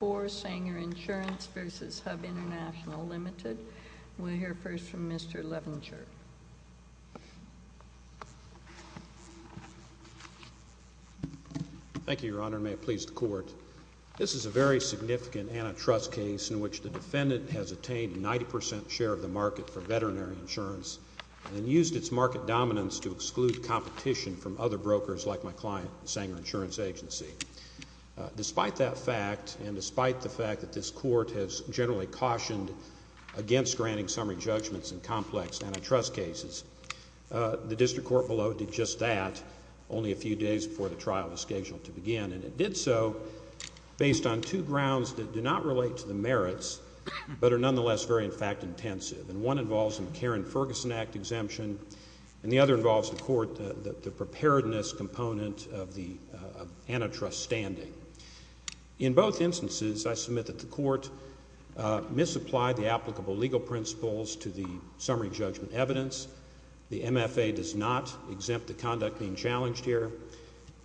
We'll hear first from Mr. Levinger. Thank you, Your Honor. May it please the Court. This is a very significant antitrust case in which the defendant has obtained a 90 percent share of the market for veterinary insurance and used its market dominance to exclude competition from other brokers like my client, the Sanger Insurance Agency. Despite that fact, and despite the fact that this Court has generally cautioned against granting summary judgments in complex antitrust cases, the District Court below did just that only a few days before the trial was scheduled to begin, and it did so based on two grounds that do not relate to the merits, but are nonetheless very, in fact, intensive. One involves the Karen Ferguson Act exemption, and the other involves the Court, the preparedness component of the antitrust standing. In both instances, I submit that the Court misapplied the applicable legal principles to the summary judgment evidence. The MFA does not exempt the conduct being challenged here,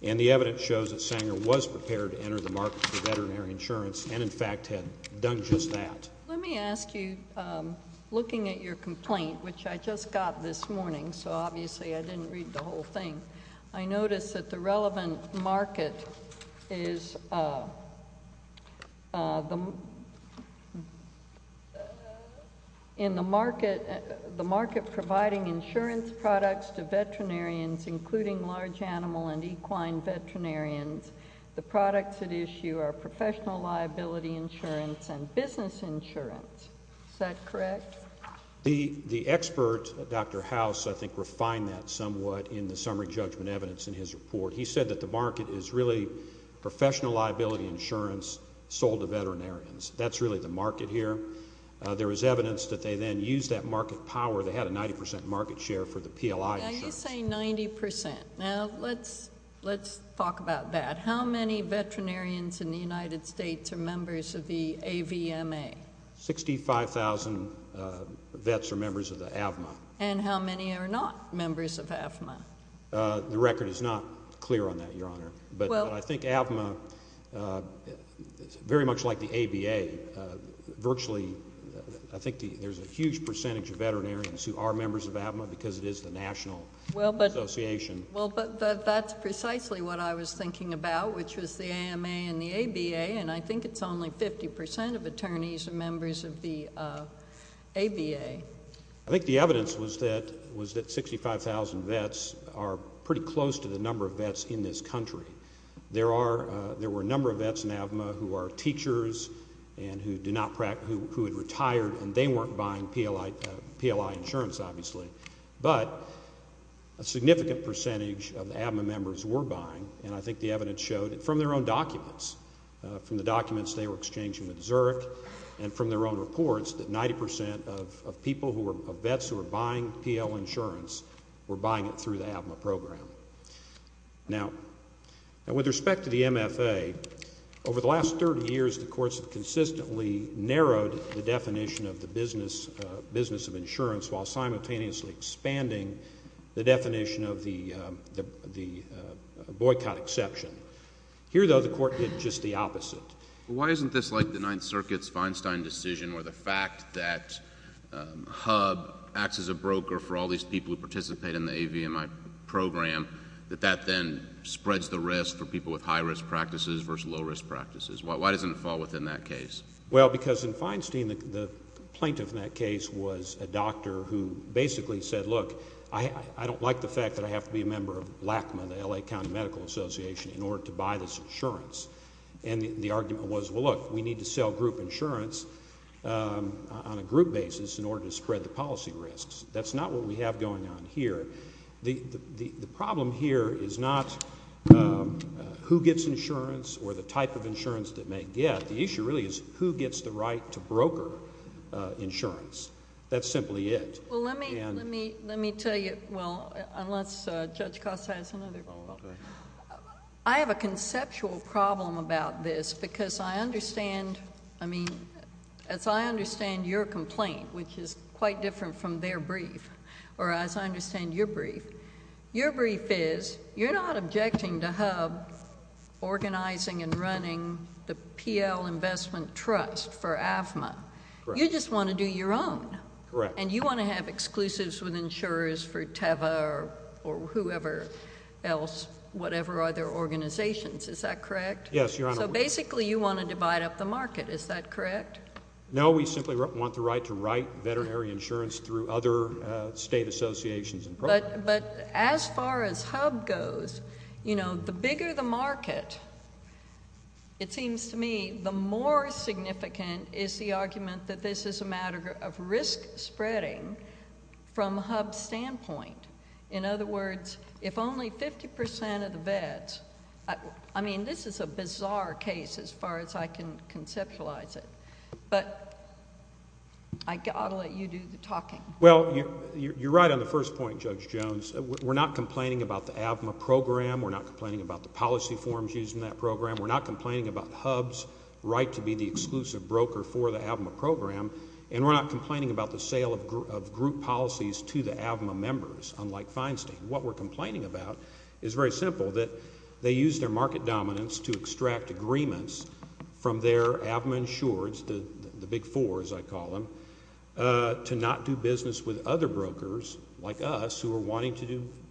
and the evidence shows that Sanger was prepared to enter the market for veterinary insurance and, in fact, had done just that. Let me ask you, looking at your complaint, which I just got this morning, so obviously I didn't read the whole thing. I notice that the relevant market is, in the market providing insurance products to veterinarians, including large animal and equine veterinarians, the products at issue are professional liability insurance and business insurance. Is that correct? The expert, Dr. House, I think refined that somewhat in the summary judgment evidence in his report. He said that the market is really professional liability insurance sold to veterinarians. That's really the market here. There is evidence that they then used that market power. They had a 90 percent market share for the PLI insurance. Now you say 90 percent. Now let's talk about that. How many veterinarians in the United States are members of the AVMA? Sixty-five thousand vets are members of the AVMA. And how many are not members of AVMA? The record is not clear on that, Your Honor. But I think AVMA, very much like the ABA, virtually, I think there's a huge percentage of veterinarians who are members of AVMA because it is the national association. Well, but that's precisely what I was thinking about, which was the AMA and the ABA, and I think it's only 50 percent of attorneys are members of the ABA. I think the evidence was that 65,000 vets are pretty close to the number of vets in this country. There were a number of vets in AVMA who are teachers and who had retired and they weren't buying PLI insurance, obviously. But a significant percentage of the AVMA members were buying, and I think the evidence showed that from their own documents, from the documents they were exchanging with Zurich and from their own reports, that 90 percent of people who were vets who were buying PL insurance were buying it through the AVMA program. Now, with respect to the MFA, over the last 30 years, the courts have consistently narrowed the definition of the business of insurance while simultaneously expanding the definition of the boycott exception. Here though, the court did just the opposite. Why isn't this like the Ninth Circuit's Feinstein decision where the fact that HUB acts as a broker for all these people who participate in the AVMA program, that that then spreads the risk for people with high-risk practices versus low-risk practices? Why doesn't it fall within that case? Well, because in Feinstein, the plaintiff in that case was a doctor who basically said, look, I don't like the fact that I have to be a member of LACMA, the L.A. County Medical Association, in order to buy this insurance. And the argument was, well, look, we need to sell group insurance on a group basis in order to spread the policy risks. That's not what we have going on here. The problem here is not who gets insurance or the type of insurance that they get. The issue really is who gets the right to broker insurance. That's simply it. And... Well, let me tell you... well, unless Judge Costa has another roll call. I have a conceptual problem about this, because I understand... I mean, as I understand your complaint, which is quite different from their brief, or as I understand your brief, your brief is, you're not objecting to HUB organizing and running the PL Investment Trust for AVMA. Correct. You just want to do your own. Correct. And you want to have exclusives with insurers for TAVA or whoever else, whatever other organizations. Is that correct? Yes, Your Honor. So basically, you want to divide up the market. Is that correct? No, we simply want the right to write veterinary insurance through other state associations and programs. But as far as HUB goes, you know, the bigger the market, it seems to me, the more significant is the argument that this is a matter of risk spreading from HUB's standpoint. In other words, if only 50 percent of the vets... I mean, this is a bizarre case as far as I can conceptualize it, but I'll let you do the talking. Well, you're right on the first point, Judge Jones. We're not complaining about the AVMA program. We're not complaining about the policy forms used in that program. We're not complaining about HUB's right to be the exclusive broker for the AVMA program, and we're not complaining about the sale of group policies to the AVMA members, unlike Feinstein. What we're complaining about is very simple, that they use their market dominance to extract agreements from their AVMA insurers, the big four, as I call them, to not do business with other brokers like us who are wanting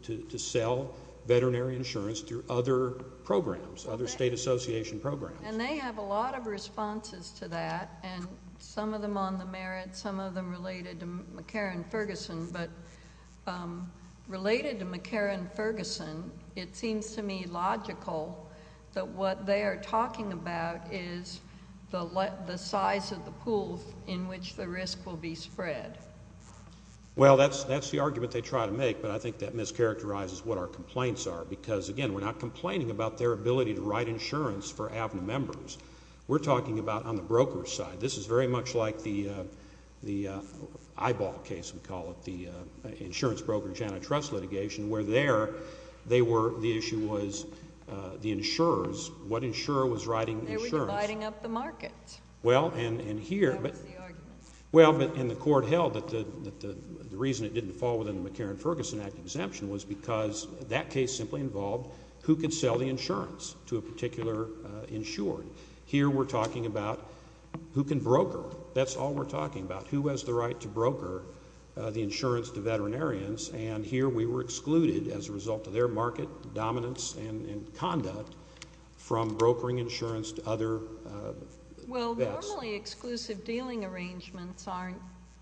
to sell veterinary insurance through other programs, other state association programs. And they have a lot of responses to that, and some of them on the merits, some of them related to McCarran-Ferguson, but related to McCarran-Ferguson, it seems to me logical that what they are talking about is the size of the pools in which the risk will be spread. Well, that's the argument they try to make, but I think that mischaracterizes what our for AVMA members. We're talking about on the broker's side. This is very much like the eyeball case, we call it, the insurance brokerage antitrust litigation, where there, they were, the issue was the insurers, what insurer was writing the insurance. They were dividing up the market. Well, and here. That was the argument. Well, and the court held that the reason it didn't fall within the McCarran-Ferguson Act exemption was because that case simply involved who could sell the insurance to a particular insured. Here we're talking about who can broker. That's all we're talking about. Who has the right to broker the insurance to veterinarians, and here we were excluded as a result of their market dominance and conduct from brokering insurance to other vets. Well, normally exclusive dealing arrangements aren't,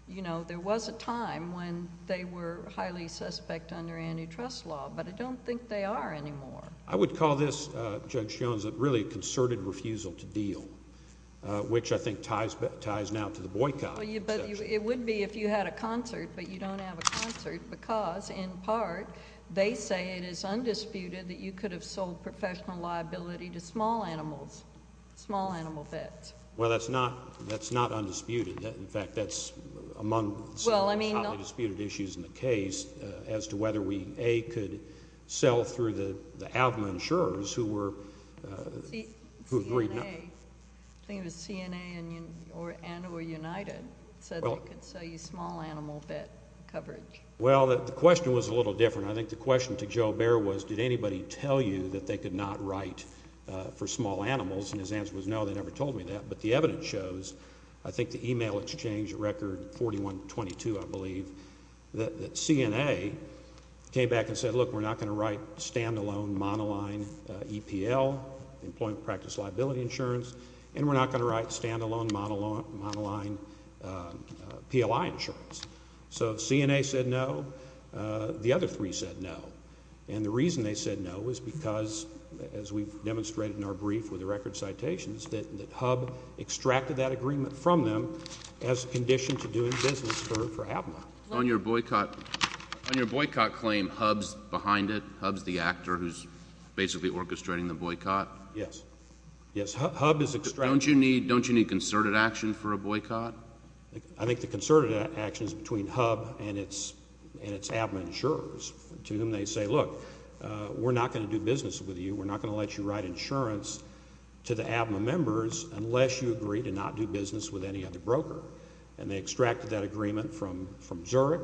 you know, there was a time when they were highly suspect under antitrust law, but I don't think they are anymore. I would call this, Judge Jones, a really concerted refusal to deal, which I think ties now to the boycott. But it would be if you had a concert, but you don't have a concert because, in part, they say it is undisputed that you could have sold professional liability to small animals, small animal vets. Well, that's not undisputed. In fact, that's among some highly disputed issues in the case as to whether we, A, could sell through the ALGMA insurers who were... CNA. I think it was CNA and or United said they could sell you small animal vet coverage. Well, the question was a little different. I think the question to Joe Bair was did anybody tell you that they could not write for small animals, and his answer was no, they never told me that, but the evidence shows, I think at the email exchange, record 4122, I believe, that CNA came back and said, look, we're not going to write stand-alone monoline EPL, Employment Practice Liability Insurance, and we're not going to write stand-alone monoline PLI insurance. So CNA said no, the other three said no, and the reason they said no was because, as we've demonstrated in our brief with the record citations, that HUBB extracted that agreement from them as a condition to do business for ABMA. On your boycott claim, HUBB's behind it? HUBB's the actor who's basically orchestrating the boycott? Yes. Yes, HUBB is extracting... Don't you need concerted action for a boycott? I think the concerted action is between HUBB and its ABMA insurers, to whom they say, look, we're not going to do business with you, we're not going to let you write insurance to the other broker, and they extracted that agreement from Zurich,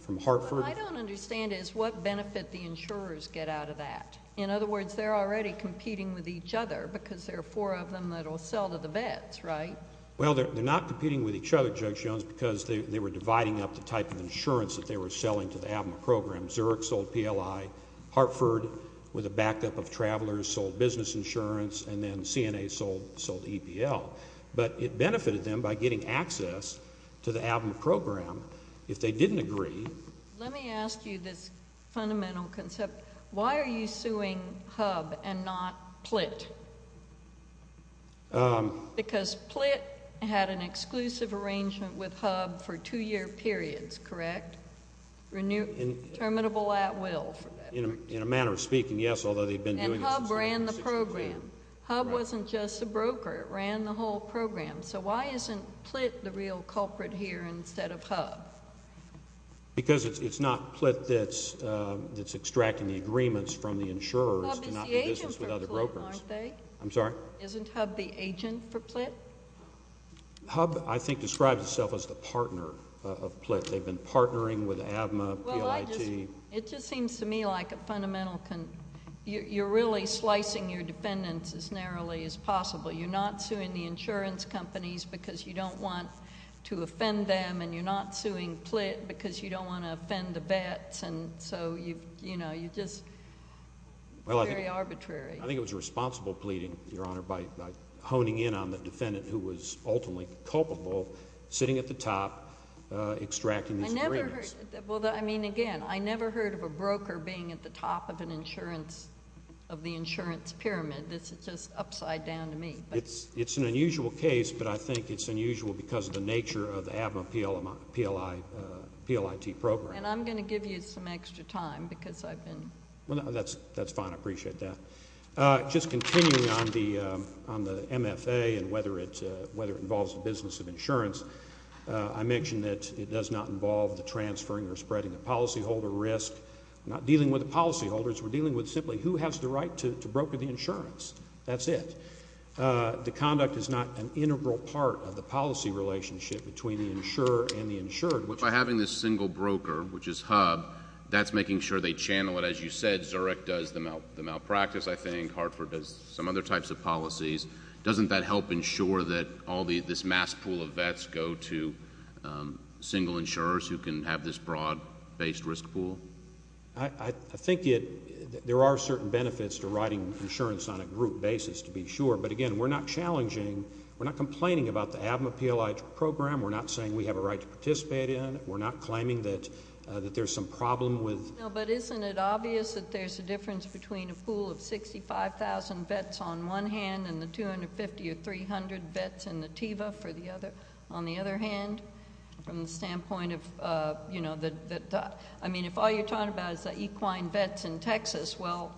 from Hartford... What I don't understand is what benefit the insurers get out of that. In other words, they're already competing with each other because there are four of them that will sell to the vets, right? Well, they're not competing with each other, Judge Jones, because they were dividing up the type of insurance that they were selling to the ABMA program. Zurich sold PLI, Hartford, with a backup of Travelers, sold business insurance, and then CNA sold EPL. But it benefited them by getting access to the ABMA program. If they didn't agree... Let me ask you this fundamental concept. Why are you suing HUBB and not PLIT? Because PLIT had an exclusive arrangement with HUBB for two-year periods, correct? Terminable at will. In a manner of speaking, yes, although they've been doing this... And HUBB ran the program. HUBB wasn't just a broker. It ran the whole program. So why isn't PLIT the real culprit here instead of HUBB? Because it's not PLIT that's extracting the agreements from the insurers to not do business HUBB is the agent for PLIT, aren't they? I'm sorry? Isn't HUBB the agent for PLIT? HUBB, I think, describes itself as the partner of PLIT. They've been partnering with ABMA, PLIT. It just seems to me like a fundamental... you're really slicing your defendants as narrowly as possible. You're not suing the insurance companies because you don't want to offend them, and you're not suing PLIT because you don't want to offend the vets, and so, you know, you just... very arbitrary. I think it was a responsible pleading, Your Honor, by honing in on the defendant who was ultimately culpable, sitting at the top, extracting these agreements. Well, I mean, again, I never heard of a broker being at the top of an insurance... of the insurance pyramid. This is just upside down to me, but... It's an unusual case, but I think it's unusual because of the nature of the ABMA PLIT program. And I'm going to give you some extra time because I've been... Well, that's fine. I appreciate that. Just continuing on the MFA and whether it involves the business of insurance, I mentioned that it does not involve the transferring or spreading the policyholder risk. We're not dealing with the policyholders. We're dealing with simply who has the right to broker the insurance. That's it. The conduct is not an integral part of the policy relationship between the insurer and the insured, which... But by having this single broker, which is HUB, that's making sure they channel it. As you said, Zurich does the malpractice, I think. Hartford does some other types of policies. Doesn't that help ensure that all this mass pool of vets go to single insurers who can have this broad-based risk pool? I think there are certain benefits to writing insurance on a group basis, to be sure. But again, we're not challenging... we're not complaining about the ABMA PLIT program. We're not saying we have a right to participate in it. We're not claiming that there's some problem with... But isn't it obvious that there's a difference between a pool of 65,000 vets on one hand and the 250 or 300 vets in the TIVA on the other hand, from the standpoint of... I mean, if all you're talking about is equine vets in Texas, well,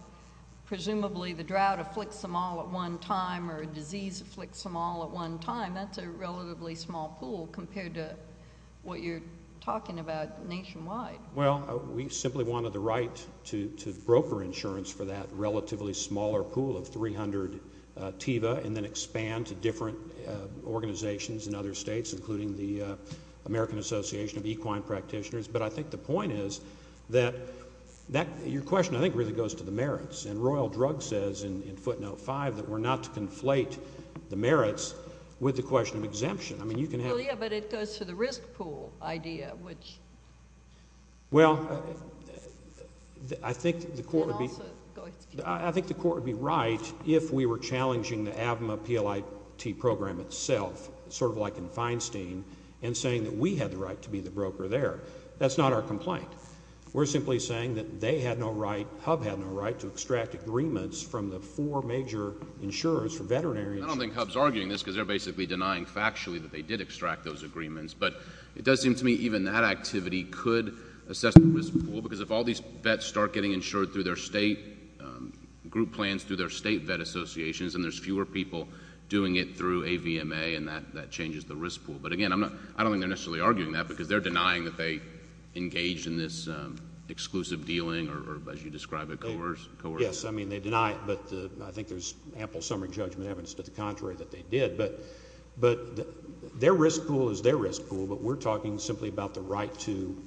presumably the drought afflicts them all at one time or a disease afflicts them all at one time. That's a relatively small pool compared to what you're talking about nationwide. Well, we simply wanted the right to broker insurance for that relatively smaller pool of 300 TIVA and then expand to different organizations in other states, including the American Association of Equine Practitioners. But I think the point is that your question, I think, really goes to the merits. And Royal Drug says in footnote 5 that we're not to conflate the merits with the question of exemption. I mean, you can have... Well, yeah, but it goes to the risk pool idea, which... Well, I think the Court would be... And also... I think the Court would be right if we were challenging the ABMA PLIT program itself, sort of like in Feinstein, and saying that we had the right to be the broker there. That's not our complaint. We're simply saying that they had no right, HUB had no right, to extract agreements from the four major insurers for veterinary insurance. I don't think HUB's arguing this because they're basically denying factually that they did extract those agreements. But it does seem to me even that activity could assess the risk pool, because if all these vets start getting insured through their state group plans, through their state vet associations, and there's fewer people doing it through AVMA, and that changes the risk pool. But, again, I don't think they're necessarily arguing that because they're denying that they engaged in this exclusive dealing or, as you describe it, coercion. Yes, I mean, they deny it, but I think there's ample summary judgment evidence to the contrary that they did. But their risk pool is their risk pool, but we're talking simply about the right to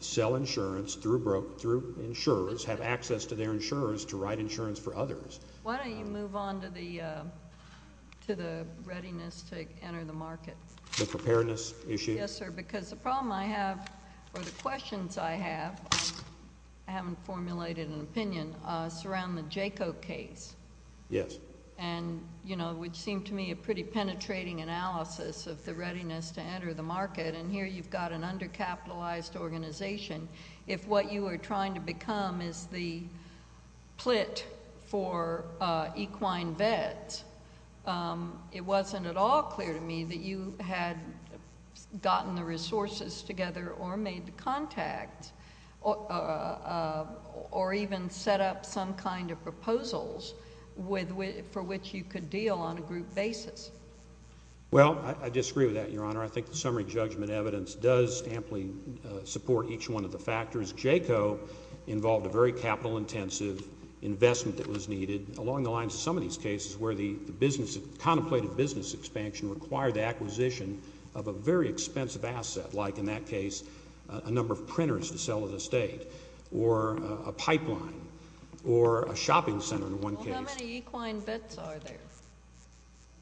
sell insurance through insurers, have access to their insurers to write insurance for others. Why don't you move on to the readiness to enter the market? The preparedness issue? Yes, sir, because the problem I have, or the questions I have, I haven't formulated an opinion, surround the JACO case. Yes. And, you know, it would seem to me a pretty penetrating analysis of the readiness to enter the market, and here you've got an undercapitalized organization. If what you are trying to become is the plit for equine vets, it wasn't at all clear to me that you had gotten the resources together or made the contact or even set up some kind of proposals for which you could deal on a group basis. Well, I disagree with that, Your Honor. I think the summary judgment evidence does amply support each one of the factors. JACO involved a very capital-intensive investment that was needed along the lines of some of these cases where the contemplated business expansion required the acquisition of a very expensive asset, like in that case a number of printers to sell at a state or a pipeline or a shopping center in one case. Well, how many equine vets are there?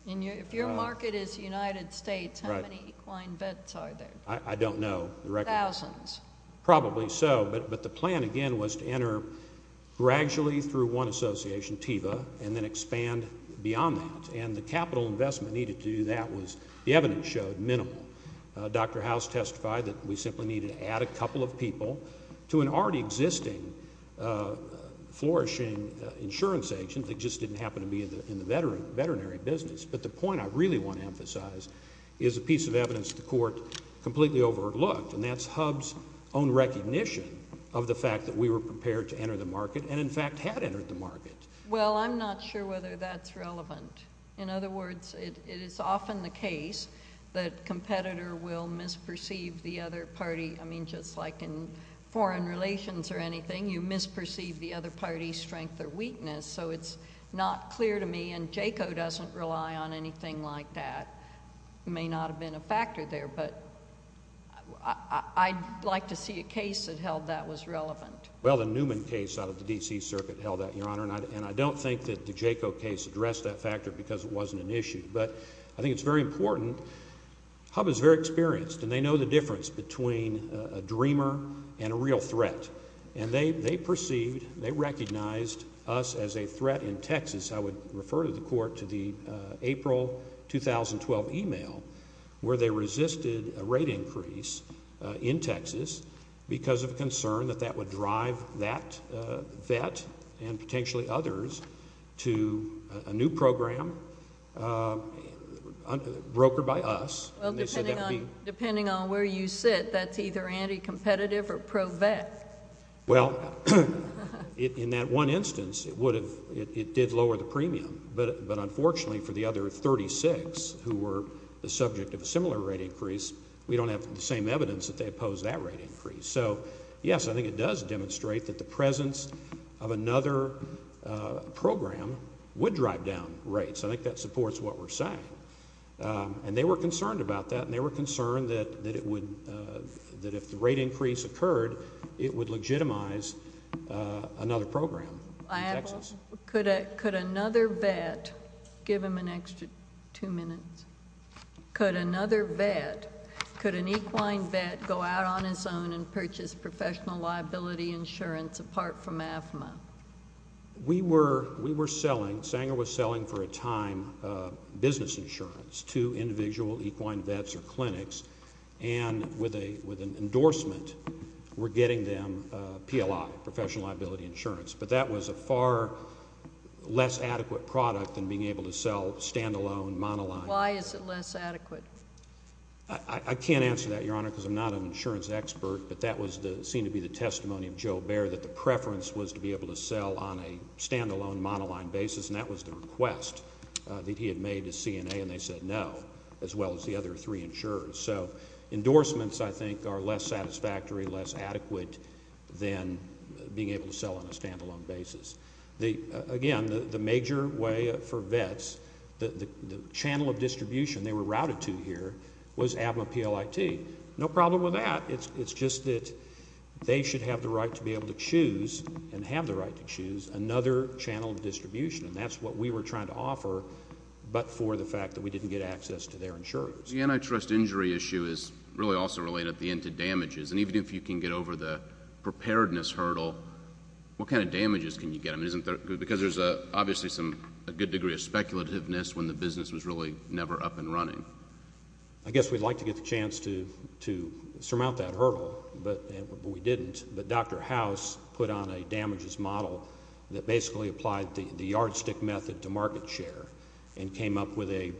If your market is the United States, how many equine vets are there? I don't know the records. Thousands. Probably so, but the plan, again, was to enter gradually through one association, TEVA, and then expand beyond that, and the capital investment needed to do that was, the evidence showed, minimal. Dr. House testified that we simply needed to add a couple of people to an already existing, flourishing insurance agent that just didn't happen to be in the veterinary business. But the point I really want to emphasize is a piece of evidence the Court completely overlooked, and that's HUB's own recognition of the fact that we were prepared to enter the market and, in fact, had entered the market. Well, I'm not sure whether that's relevant. In other words, it is often the case that a competitor will misperceive the other party, I mean, just like in foreign relations or anything, you misperceive the other party's strength or weakness, so it's not clear to me, and JACO doesn't rely on anything like that. It may not have been a factor there, but I'd like to see a case that held that was relevant. Well, the Newman case out of the D.C. Circuit held that, Your Honor, and I don't think that the JACO case addressed that factor because it wasn't an issue, but I think it's very important. HUB is very experienced, and they know the difference between a dreamer and a real threat, and they perceived, they recognized us as a threat in Texas. I would refer to the Court to the April 2012 e-mail where they resisted a rate increase in Texas because of concern that that would drive that vet and potentially others to a new program brokered by us. Well, depending on where you sit, that's either anti-competitive or pro-vet. Well, in that one instance, it did lower the premium, but unfortunately for the other 36 who were the subject of a similar rate increase, we don't have the same evidence that they opposed that rate increase. So, yes, I think it does demonstrate that the presence of another program would drive down rates. I think that supports what we're saying, and they were concerned about that, and they were concerned that if the rate increase occurred, it would legitimize another program in Texas. Could another vet, give him an extra two minutes, could another vet, could an equine vet go out on his own and purchase professional liability insurance apart from AFMA? We were selling, Sanger was selling for a time, business insurance to individual equine vets or clinics, and with an endorsement, we're getting them PLI, professional liability insurance. But that was a far less adequate product than being able to sell stand-alone, monoline. Why is it less adequate? I can't answer that, Your Honor, because I'm not an insurance expert, but that seemed to be the testimony of Joe Baer, that the preference was to be able to sell on a stand-alone, monoline basis, and that was the request that he had made to CNA, and they said no, as well as the other three insurers. So endorsements, I think, are less satisfactory, less adequate than being able to sell on a stand-alone basis. Again, the major way for vets, the channel of distribution they were routed to here was AFMA PLIT. No problem with that. It's just that they should have the right to be able to choose and have the right to choose another channel of distribution, and that's what we were trying to offer but for the fact that we didn't get access to their insurance. The antitrust injury issue is really also related at the end to damages, and even if you can get over the preparedness hurdle, what kind of damages can you get? Because there's obviously a good degree of speculativeness when the business was really never up and running. I guess we'd like to get the chance to surmount that hurdle, but we didn't. But Dr. House put on a damages model that basically applied the yardstick method to market share and came up with a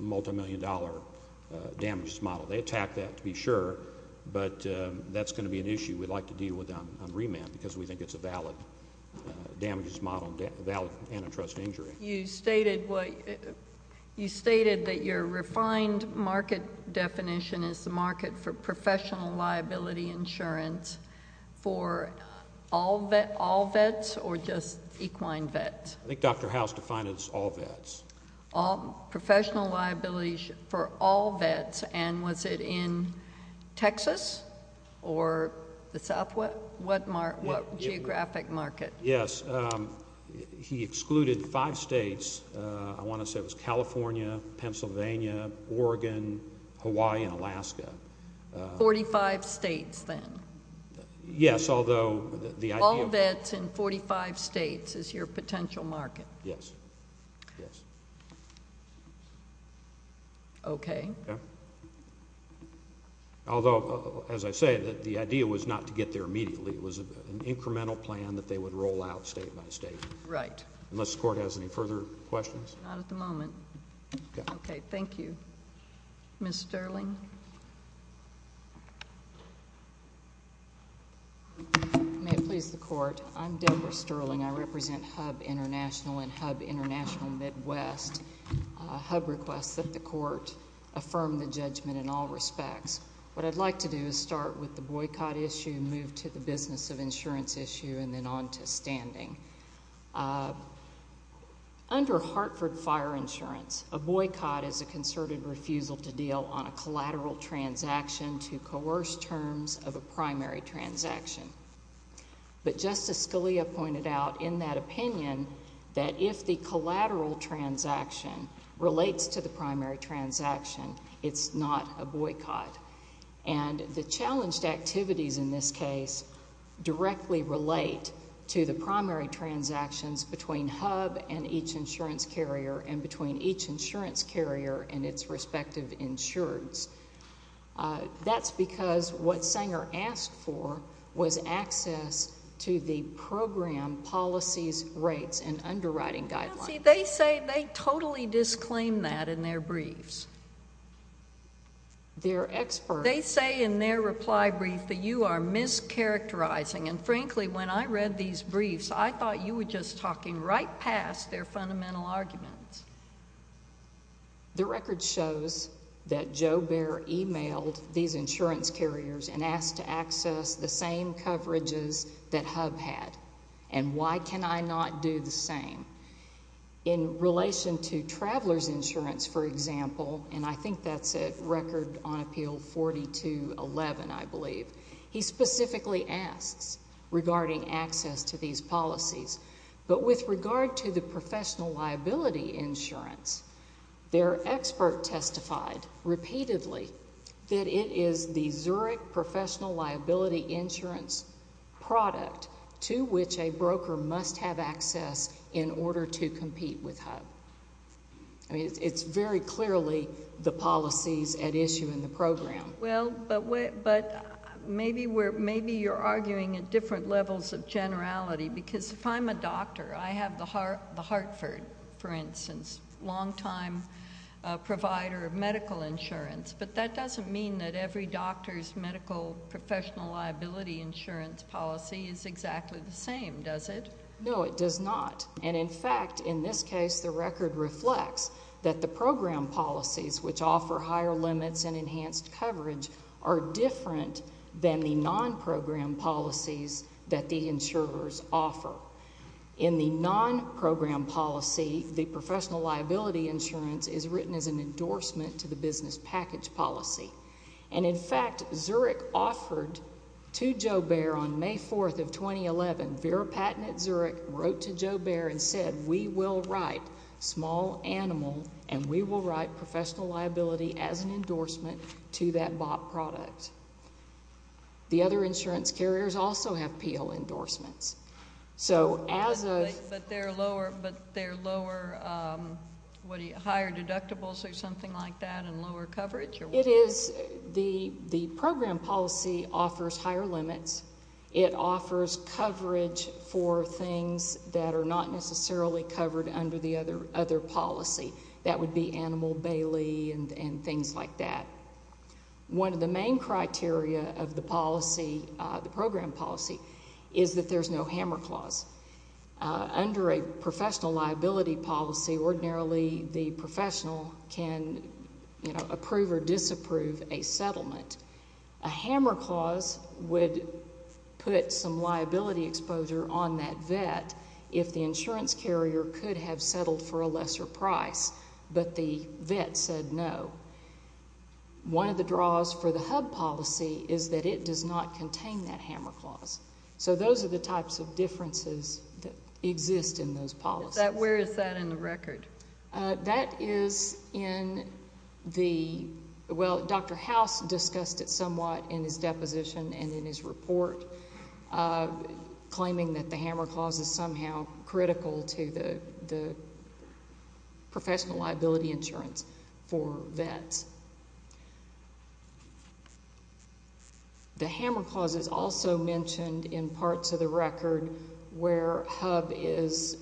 multimillion-dollar damages model. They attacked that, to be sure, but that's going to be an issue we'd like to deal with on remand because we think it's a valid damages model, a valid antitrust injury. You stated that your refined market definition is the market for professional liability insurance for all vets or just equine vets. I think Dr. House defined it as all vets. Professional liabilities for all vets, and was it in Texas or the Southwest? What geographic market? Yes. He excluded five states. I want to say it was California, Pennsylvania, Oregon, Hawaii, and Alaska. Forty-five states then? Yes, although the idea of the- Yes. Okay. Although, as I say, the idea was not to get there immediately. It was an incremental plan that they would roll out state by state. Right. Unless the Court has any further questions? Not at the moment. Ms. Sterling? May it please the Court. I'm Deborah Sterling. I represent HUB International and HUB International Midwest. HUB requests that the Court affirm the judgment in all respects. What I'd like to do is start with the boycott issue, move to the business of insurance issue, and then on to standing. Under Hartford Fire Insurance, a boycott is a concerted refusal to deal on a collateral transaction to coerce terms of a primary transaction. But Justice Scalia pointed out in that opinion that if the collateral transaction relates to the primary transaction, it's not a boycott. And the challenged activities in this case directly relate to the primary transactions between HUB and each insurance carrier and between each insurance carrier and its respective insureds. That's because what Sanger asked for was access to the program policies, rates, and underwriting guidelines. Well, see, they say they totally disclaim that in their briefs. They're experts. They say in their reply brief that you are mischaracterizing. And frankly, when I read these briefs, I thought you were just talking right past their fundamental arguments. The record shows that Joe Bair emailed these insurance carriers and asked to access the same coverages that HUB had. And why can I not do the same? In relation to traveler's insurance, for example, and I think that's a record on Appeal 4211, I believe, he specifically asks regarding access to these policies. But with regard to the professional liability insurance, their expert testified repeatedly that it is the Zurich professional liability insurance product to which a broker must have access in order to compete with HUB. I mean, it's very clearly the policies at issue in the program. Well, but maybe you're arguing at different levels of generality. Because if I'm a doctor, I have the Hartford, for instance, long-time provider of medical insurance. But that doesn't mean that every doctor's medical professional liability insurance policy is exactly the same, does it? No, it does not. And, in fact, in this case, the record reflects that the program policies, which offer higher limits and enhanced coverage, are different than the non-program policies that the insurers offer. In the non-program policy, the professional liability insurance is written as an endorsement to the business package policy. And, in fact, Zurich offered to JoBear on May 4th of 2011, Vera Patten at Zurich wrote to JoBear and said, we will write small animal and we will write professional liability as an endorsement to that bought product. The other insurance carriers also have P.L. endorsements. So as of ‑‑ But they're lower, what are you, higher deductibles or something like that and lower coverage? It is ‑‑ the program policy offers higher limits. It offers coverage for things that are not necessarily covered under the other policy. That would be Animal Bailey and things like that. One of the main criteria of the policy, the program policy, is that there's no hammer clause. Under a professional liability policy, ordinarily the professional can, you know, approve or disapprove a settlement. A hammer clause would put some liability exposure on that vet if the insurance carrier could have settled for a lesser price, but the vet said no. One of the draws for the hub policy is that it does not contain that hammer clause. So those are the types of differences that exist in those policies. Where is that in the record? That is in the ‑‑ well, Dr. House discussed it somewhat in his deposition and in his report, claiming that the hammer clause is somehow critical to the professional liability insurance for vets. The hammer clause is also mentioned in parts of the record where hub is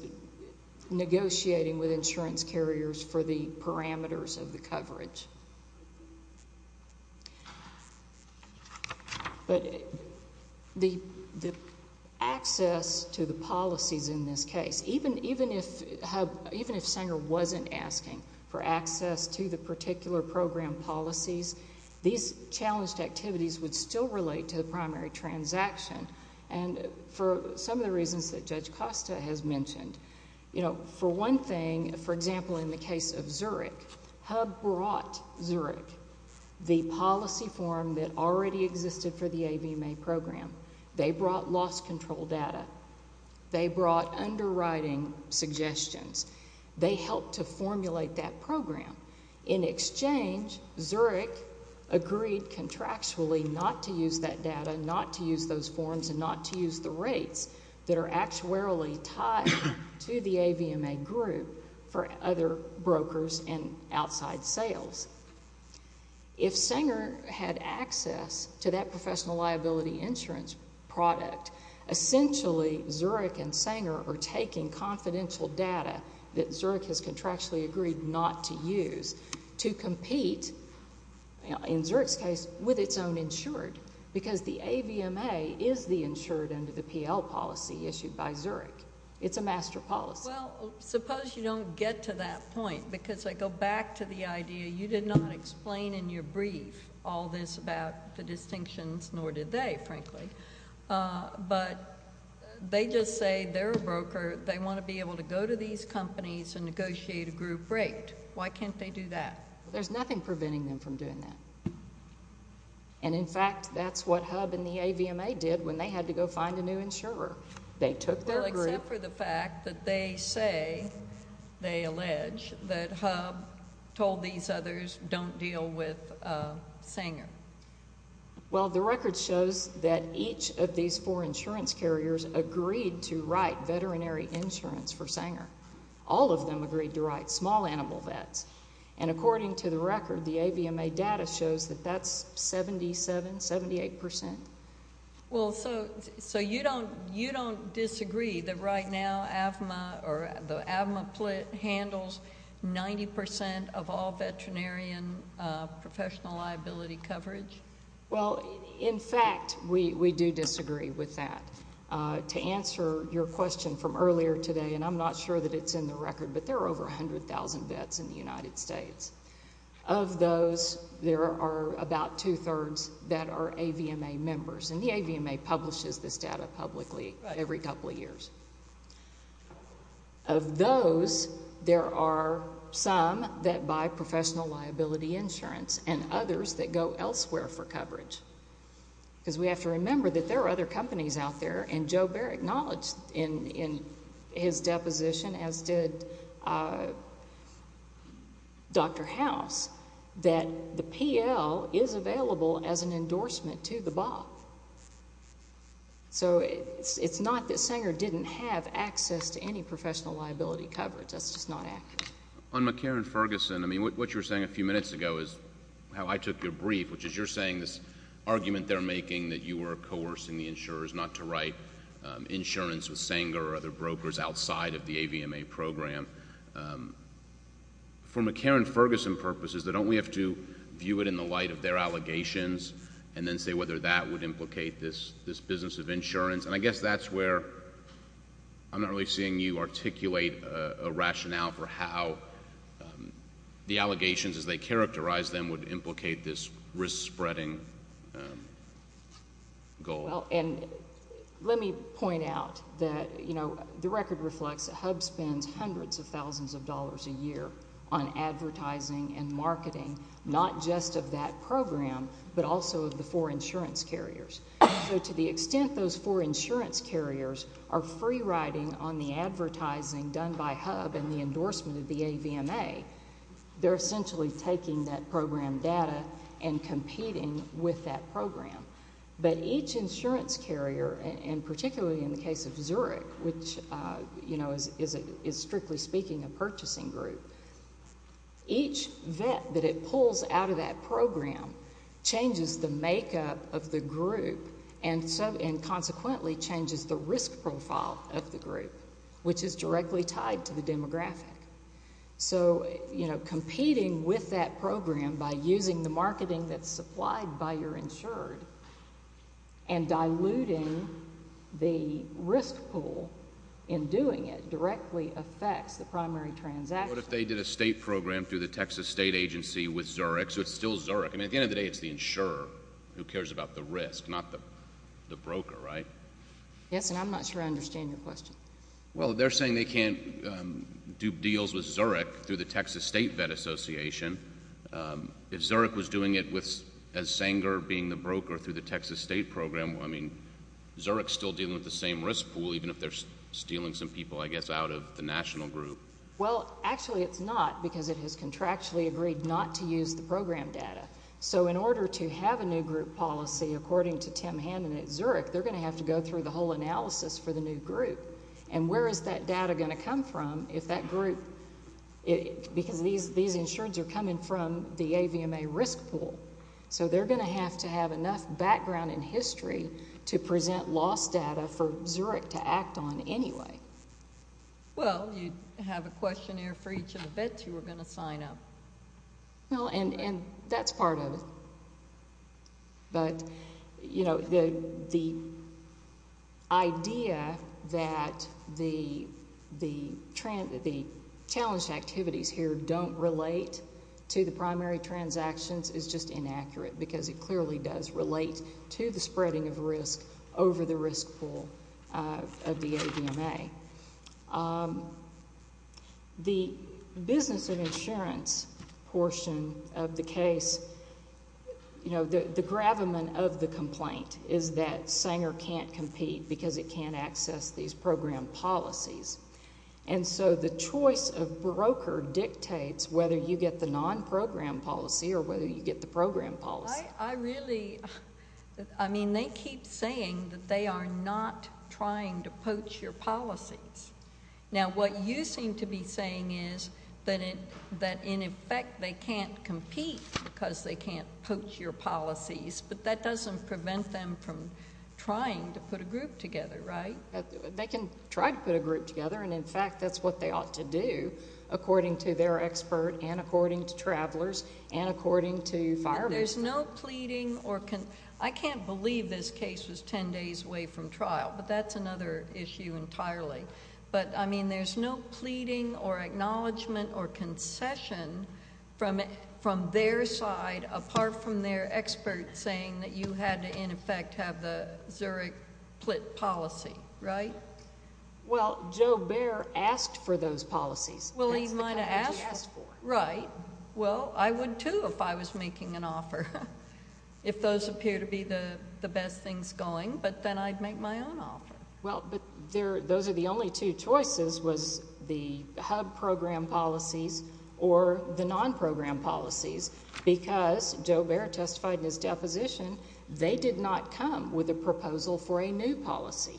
negotiating with insurance carriers for the parameters of the coverage. But the access to the policies in this case, even if Sanger wasn't asking for access to the particular program policies, these challenged activities would still relate to the primary transaction and for some of the reasons that Judge Costa has mentioned. You know, for one thing, for example, in the case of Zurich, hub brought Zurich the policy form that already existed for the AVMA program. They brought loss control data. They brought underwriting suggestions. They helped to formulate that program. In exchange, Zurich agreed contractually not to use that data, not to use those forms, and not to use the rates that are actuarially tied to the AVMA group for other brokers and outside sales. If Sanger had access to that professional liability insurance product, essentially Zurich and Sanger are taking confidential data that Zurich has contractually agreed not to use to compete, in Zurich's case, with its own insured because the AVMA is the insured under the PL policy issued by Zurich. It's a master policy. Well, suppose you don't get to that point because I go back to the idea you did not explain in your brief all this about the distinctions, nor did they, frankly. But they just say they're a broker. They want to be able to go to these companies and negotiate a group rate. Why can't they do that? There's nothing preventing them from doing that. And, in fact, that's what hub and the AVMA did when they had to go find a new insurer. They took their group— Well, except for the fact that they say, they allege, that hub told these others don't deal with Sanger. Well, the record shows that each of these four insurance carriers agreed to write veterinary insurance for Sanger. All of them agreed to write small animal vets. And according to the record, the AVMA data shows that that's 77%, 78%. Well, so you don't disagree that right now AVMA or the AVMA plate handles 90% of all veterinarian professional liability coverage? Well, in fact, we do disagree with that. To answer your question from earlier today, and I'm not sure that it's in the record, but there are over 100,000 vets in the United States. Of those, there are about two-thirds that are AVMA members. And the AVMA publishes this data publicly every couple of years. Of those, there are some that buy professional liability insurance and others that go elsewhere for coverage. Because we have to remember that there are other companies out there, and Joe Bair acknowledged in his deposition, as did Dr. House, that the PL is available as an endorsement to the BOP. So it's not that Sanger didn't have access to any professional liability coverage. That's just not accurate. On McCarran-Ferguson, I mean, what you were saying a few minutes ago is how I took your brief, which is you're saying this argument they're making that you were coercing the insurers not to write insurance with Sanger or other brokers outside of the AVMA program. For McCarran-Ferguson purposes, don't we have to view it in the light of their allegations and then say whether that would implicate this business of insurance? And I guess that's where I'm not really seeing you articulate a rationale for how the allegations as they characterize them would implicate this risk-spreading goal. Well, and let me point out that the record reflects that HUB spends hundreds of thousands of dollars a year on advertising and marketing, not just of that program but also of the four insurance carriers. So to the extent those four insurance carriers are free-riding on the advertising done by HUB and the endorsement of the AVMA, they're essentially taking that program data and competing with that program. But each insurance carrier, and particularly in the case of Zurich, which is, strictly speaking, a purchasing group, each vet that it pulls out of that program changes the makeup of the group and consequently changes the risk profile of the group, which is directly tied to the demographic. So competing with that program by using the marketing that's supplied by your insured and diluting the risk pool in doing it directly affects the primary transaction. What if they did a state program through the Texas State Agency with Zurich, so it's still Zurich? I mean, at the end of the day, it's the insurer who cares about the risk, not the broker, right? Yes, and I'm not sure I understand your question. Well, they're saying they can't do deals with Zurich through the Texas State Vet Association. If Zurich was doing it as Sanger being the broker through the Texas State Program, I mean, Zurich's still dealing with the same risk pool, even if they're stealing some people, I guess, out of the national group. Well, actually it's not because it has contractually agreed not to use the program data. So in order to have a new group policy, according to Tim Hammond at Zurich, they're going to have to go through the whole analysis for the new group, and where is that data going to come from if that group, because these insureds are coming from the AVMA risk pool, so they're going to have to have enough background in history to present loss data for Zurich to act on anyway. Well, you have a questionnaire for each of the vets who are going to sign up. Well, and that's part of it. But, you know, the idea that the challenged activities here don't relate to the primary transactions is just inaccurate because it clearly does relate to the spreading of risk over the risk pool of the AVMA. The business and insurance portion of the case, you know, the gravamen of the complaint is that Sanger can't compete because it can't access these program policies. And so the choice of broker dictates whether you get the non-program policy or whether you get the program policy. I really, I mean, they keep saying that they are not trying to poach your policies. Now, what you seem to be saying is that in effect they can't compete because they can't poach your policies, but that doesn't prevent them from trying to put a group together, right? They can try to put a group together, and in fact that's what they ought to do according to their expert and according to travelers and according to firemen. There's no pleading or... I can't believe this case was ten days away from trial, but that's another issue entirely. But, I mean, there's no pleading or acknowledgement or concession from their side apart from their expert saying that you had to in effect have the Zurich plit policy, right? Well, Joe Baer asked for those policies. Well, he might have asked for them. Right. Well, I would too if I was making an offer, if those appear to be the best things going, but then I'd make my own offer. Well, but those are the only two choices was the hub program policies or the non-program policies because Joe Baer testified in his deposition they did not come with a proposal for a new policy.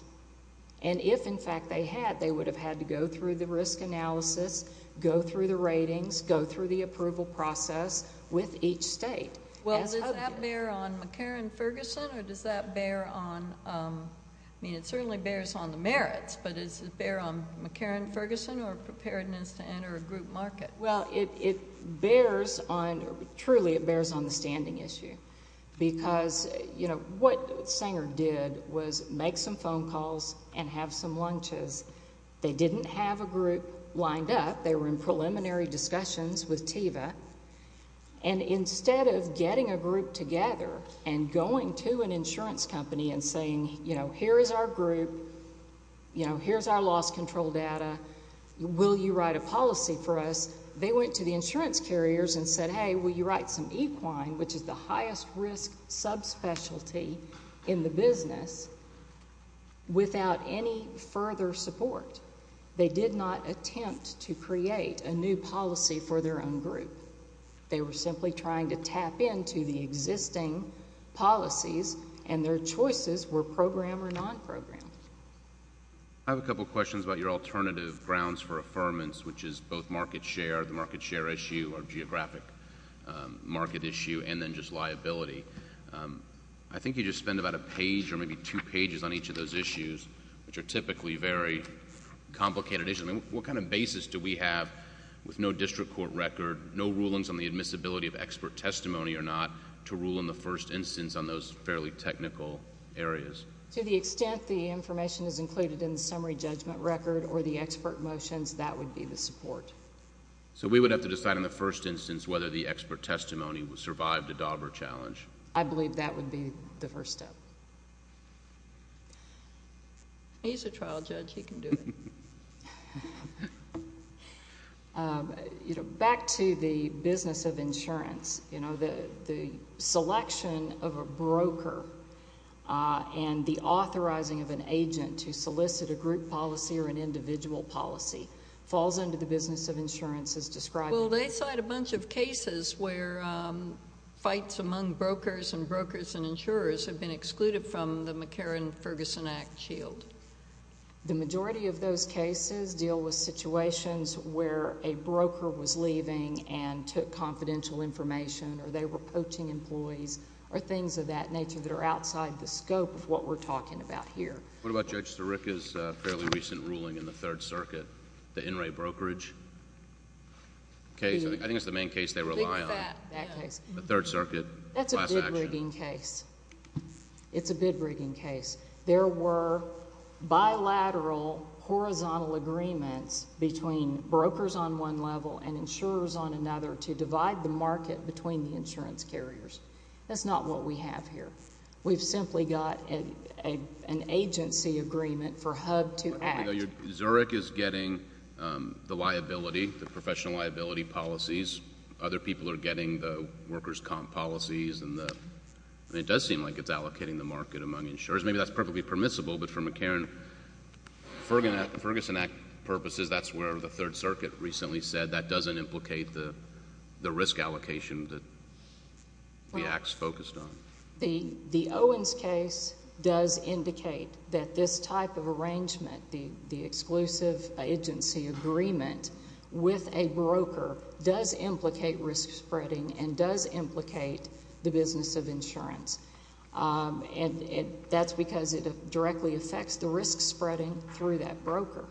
And if, in fact, they had, they would have had to go through the risk analysis, go through the ratings, go through the approval process with each state. Well, does that bear on McCarran-Ferguson or does that bear on... I mean, it certainly bears on the merits, but does it bear on McCarran-Ferguson or preparedness to enter a group market? Well, it bears on... truly it bears on the standing issue because, you know, what Sanger did was make some phone calls and have some lunches. They didn't have a group lined up. They were in preliminary discussions with TEVA. And instead of getting a group together and going to an insurance company and saying, you know, here is our group, you know, here is our loss control data, will you write a policy for us, they went to the insurance carriers and said, hey, will you write some equine, which is the highest risk subspecialty in the business, without any further support. They did not attempt to create a new policy for their own group. They were simply trying to tap into the existing policies, and their choices were program or non-program. I have a couple of questions about your alternative grounds for affirmance, which is both market share, the market share issue or geographic market issue, and then just liability. I think you just spend about a page or maybe two pages on each of those issues, which are typically very complicated issues. I mean, what kind of basis do we have with no district court record, no rulings on the admissibility of expert testimony or not, to rule in the first instance on those fairly technical areas? To the extent the information is included in the summary judgment record or the expert motions, that would be the support. So we would have to decide in the first instance whether the expert testimony would survive the Dauber challenge? I believe that would be the first step. He's a trial judge. He can do it. Back to the business of insurance, the selection of a broker and the authorizing of an agent to solicit a group policy or an individual policy falls under the business of insurance as described. Well, they cite a bunch of cases where fights among brokers and brokers and insurers have been excluded from the McCarran-Ferguson Act shield. The majority of those cases deal with situations where a broker was leaving and took confidential information or they were coaching employees or things of that nature that are outside the scope of what we're talking about here. What about Judge Sirica's fairly recent ruling in the Third Circuit, the In re Brokerage case? I think it's the main case they rely on. That case. The Third Circuit. That's a big rigging case. It's a big rigging case. There were bilateral horizontal agreements between brokers on one level and insurers on another to divide the market between the insurance carriers. That's not what we have here. We've simply got an agency agreement for HUD to act. Zurich is getting the liability, the professional liability policies. Other people are getting the workers' comp policies, and it does seem like it's allocating the market among insurers. Maybe that's perfectly permissible, but for McCarran-Ferguson Act purposes, that's where the Third Circuit recently said that doesn't implicate the risk allocation that the Act's focused on. The Owens case does indicate that this type of arrangement, the exclusive agency agreement with a broker, does implicate risk spreading and does implicate the business of insurance. And that's because it directly affects the risk spreading through that broker.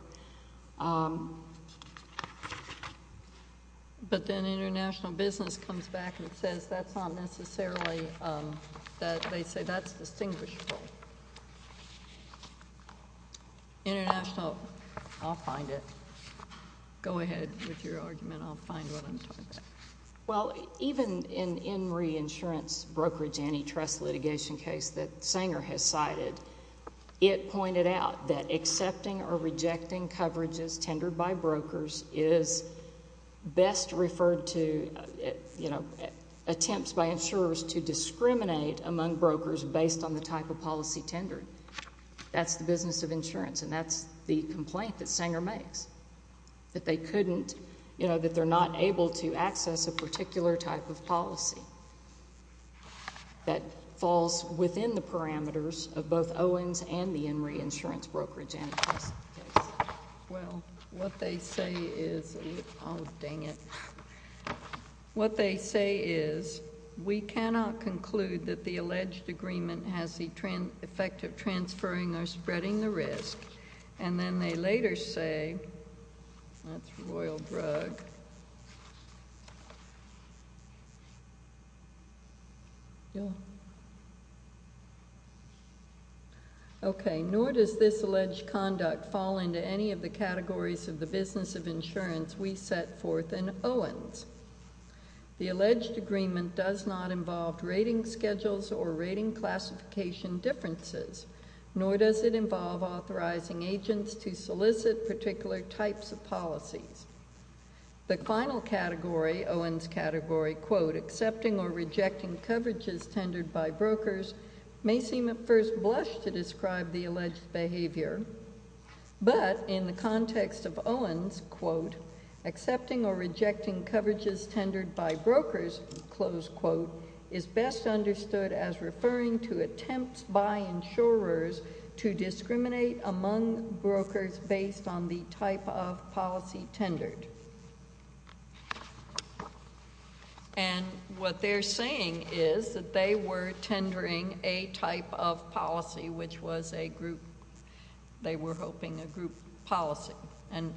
But then international business comes back and says that's not necessarily that. They say that's distinguishable. International. I'll find it. Go ahead with your argument. I'll find what I'm talking about. Well, even in the INRI insurance brokerage antitrust litigation case that Sanger has cited, it pointed out that accepting or rejecting coverages tendered by brokers is best referred to, you know, attempts by insurers to discriminate among brokers based on the type of policy tendered. That's the business of insurance, and that's the complaint that Sanger makes, that they couldn't, you know, that they're not able to access a particular type of policy that falls within the parameters of both Owens and the INRI insurance brokerage antitrust case. Well, what they say is we cannot conclude that the alleged agreement has the effect of transferring or spreading the risk, and then they later say, that's Royal Brugg. Okay. Nor does this alleged conduct fall into any of the categories of the business of insurance we set forth in Owens. The alleged agreement does not involve rating schedules or rating classification differences, nor does it involve authorizing agents to solicit particular types of policies. The final category, Owens category, quote, accepting or rejecting coverages tendered by brokers, may seem at first blush to describe the alleged behavior, but in the context of Owens, quote, accepting or rejecting coverages tendered by brokers, close quote, is best understood as referring to attempts by insurers to discriminate among brokers based on the type of policy tendered. And what they're saying is that they were tendering a type of policy, which was a group, they were hoping, a group policy. And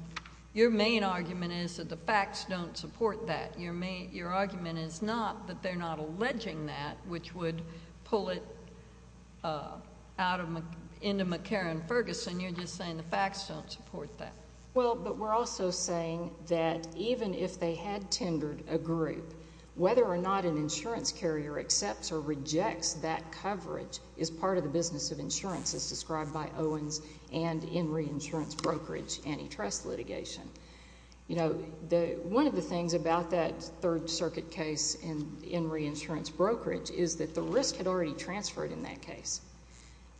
your main argument is that the facts don't support that. Your argument is not that they're not alleging that, which would pull it into McCarran-Ferguson. You're just saying the facts don't support that. Well, but we're also saying that even if they had tendered a group, whether or not an insurance carrier accepts or rejects that coverage is part of the business of insurance, as described by Owens and in reinsurance brokerage antitrust litigation. You know, one of the things about that Third Circuit case in reinsurance brokerage is that the risk had already transferred in that case.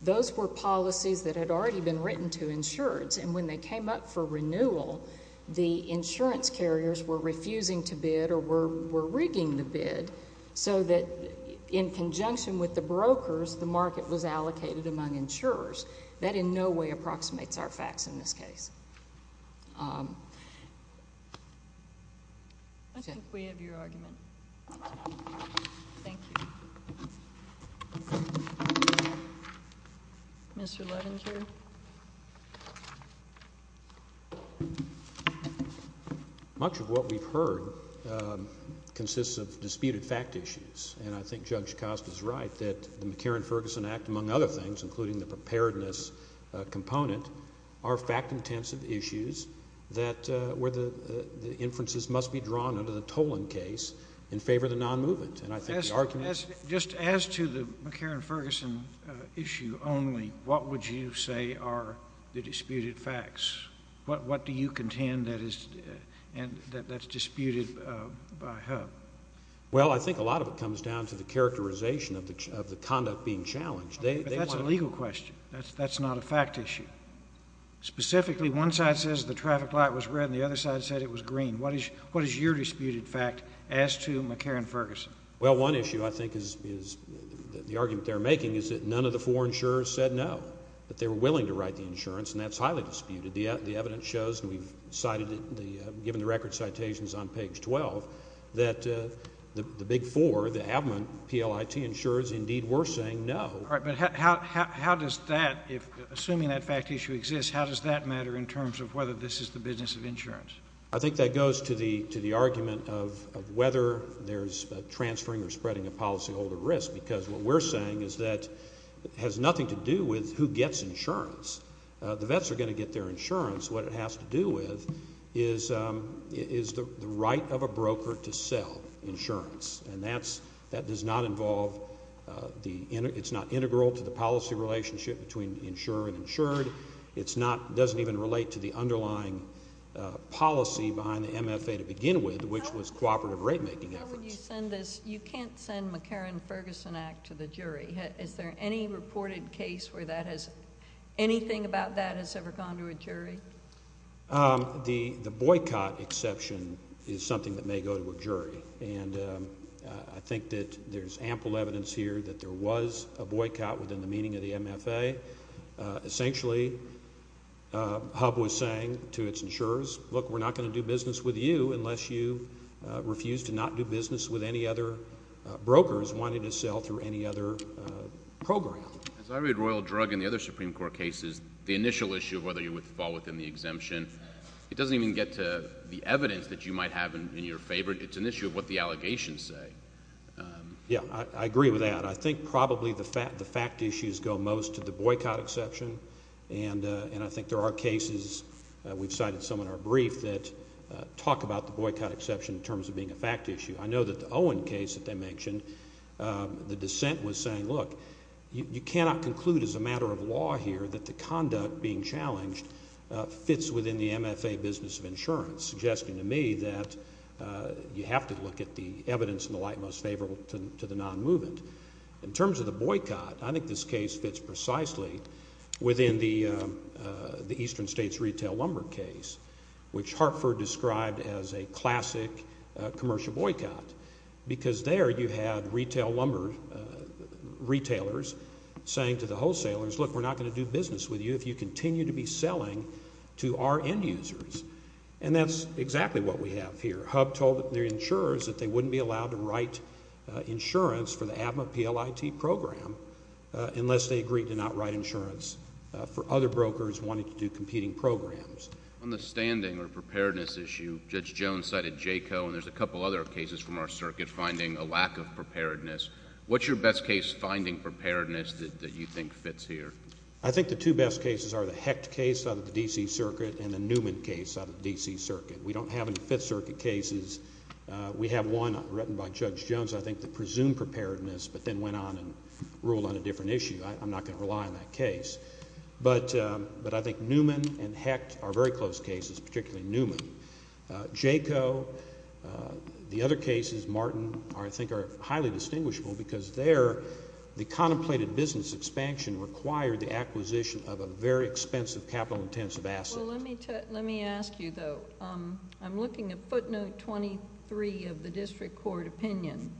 Those were policies that had already been written to insureds, and when they came up for renewal, the insurance carriers were refusing to bid or were rigging the bid so that in conjunction with the brokers, the market was allocated among insurers. That in no way approximates our facts in this case. I think we have your argument. Thank you. Mr. Levinger. Much of what we've heard consists of disputed fact issues, and I think Judge Costa is right that the McCarran-Ferguson Act, among other things, including the preparedness component, are fact-intensive issues where the inferences must be drawn under the Toland case in favor of the non-movement. And I think the argument— Just as to the McCarran-Ferguson issue only, what would you say are the disputed facts? What do you contend that is disputed by HUB? Well, I think a lot of it comes down to the characterization of the conduct being challenged. But that's a legal question. That's not a fact issue. Specifically, one side says the traffic light was red and the other side said it was green. What is your disputed fact as to McCarran-Ferguson? Well, one issue I think is the argument they're making is that none of the four insurers said no, that they were willing to write the insurance, and that's highly disputed. The evidence shows, and we've cited it, given the record citations on page 12, that the big four, the admin PLIT insurers, indeed were saying no. All right, but how does that, assuming that fact issue exists, how does that matter in terms of whether this is the business of insurance? I think that goes to the argument of whether there's transferring or spreading of policyholder risk, because what we're saying is that it has nothing to do with who gets insurance. The vets are going to get their insurance. What it has to do with is the right of a broker to sell insurance, and that does not involve the integral to the policy relationship between insurer and insured. It doesn't even relate to the underlying policy behind the MFA to begin with, which was cooperative rate-making efforts. How would you send this? You can't send McCarran-Ferguson Act to the jury. Is there any reported case where anything about that has ever gone to a jury? The boycott exception is something that may go to a jury, and I think that there's ample evidence here that there was a boycott within the meaning of the MFA. Essentially, HUB was saying to its insurers, look, we're not going to do business with you unless you refuse to not do business with any other brokers wanting to sell through any other program. As I read Royal Drug and the other Supreme Court cases, the initial issue of whether you would fall within the exemption, it doesn't even get to the evidence that you might have in your favor. It's an issue of what the allegations say. Yeah, I agree with that. I think probably the fact issues go most to the boycott exception, and I think there are cases we've cited some in our brief that talk about the boycott exception in terms of being a fact issue. I know that the Owen case that they mentioned, the dissent was saying, look, you cannot conclude as a matter of law here that the conduct being challenged fits within the MFA business of insurance, suggesting to me that you have to look at the evidence in the light most favorable to the non-movement. In terms of the boycott, I think this case fits precisely within the Eastern States Retail Lumber case, which Hartford described as a classic commercial boycott, because there you had retail lumber retailers saying to the wholesalers, look, we're not going to do business with you if you continue to be selling to our end users. And that's exactly what we have here. Hub told their insurers that they wouldn't be allowed to write insurance for the ABMA PLIT program unless they agreed to not write insurance for other brokers wanting to do competing programs. On the standing or preparedness issue, Judge Jones cited JACO, and there's a couple other cases from our circuit finding a lack of preparedness. What's your best case finding preparedness that you think fits here? I think the two best cases are the Hecht case out of the D.C. Circuit and the Newman case out of the D.C. Circuit. We don't have any Fifth Circuit cases. We have one written by Judge Jones, I think, that presumed preparedness, but then went on and ruled on a different issue. I'm not going to rely on that case. But I think Newman and Hecht are very close cases, particularly Newman. JACO, the other cases, Martin, I think are highly distinguishable because there the contemplated business expansion required the acquisition of a very expensive capital-intensive asset. Let me ask you, though. I'm looking at footnote 23 of the district court opinion,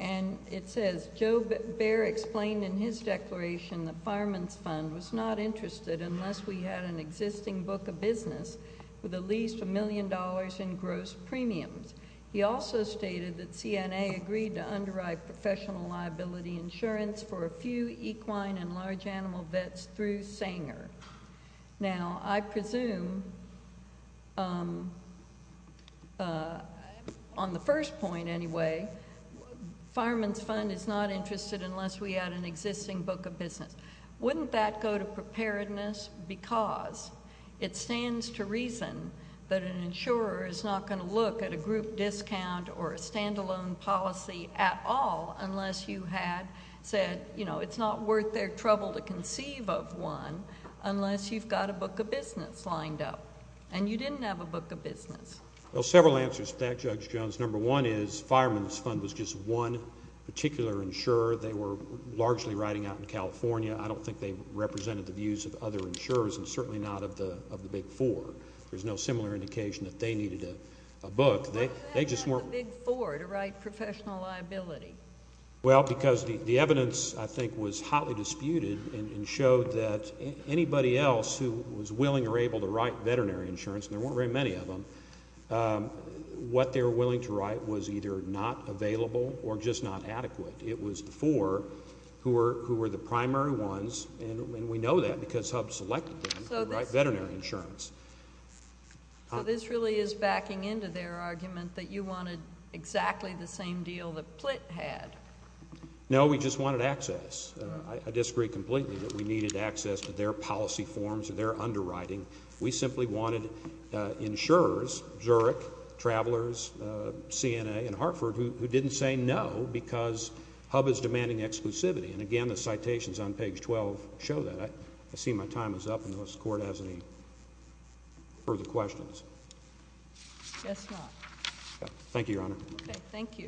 and it says, Joe Baer explained in his declaration that Fireman's Fund was not interested unless we had an existing book of business with at least $1 million in gross premiums. He also stated that CNA agreed to underwrite professional liability insurance for a few equine and large animal vets through Sanger. Now, I presume, on the first point anyway, Fireman's Fund is not interested unless we had an existing book of business. Wouldn't that go to preparedness? Because it stands to reason that an insurer is not going to look at a group discount or a standalone policy at all unless you had said, you know, it's not worth their trouble to conceive of one unless you've got a book of business lined up, and you didn't have a book of business. Well, several answers to that, Judge Jones. Number one is Fireman's Fund was just one particular insurer. They were largely riding out in California. I don't think they represented the views of other insurers and certainly not of the big four. There's no similar indication that they needed a book. They just weren't. Why was that not the big four to write professional liability? Well, because the evidence, I think, was hotly disputed and showed that anybody else who was willing or able to write veterinary insurance, and there weren't very many of them, what they were willing to write was either not available or just not adequate. It was the four who were the primary ones, and we know that because HUB selected them to write veterinary insurance. So this really is backing into their argument that you wanted exactly the same deal that Plitt had. No, we just wanted access. I disagree completely that we needed access to their policy forms and their underwriting. We simply wanted insurers, Zurich, Travelers, CNA, and Hartford, who didn't say no because HUB is demanding exclusivity. And, again, the citations on page 12 show that. I see my time is up. I don't know if this Court has any further questions. Yes, Your Honor. Thank you, Your Honor. Okay, thank you.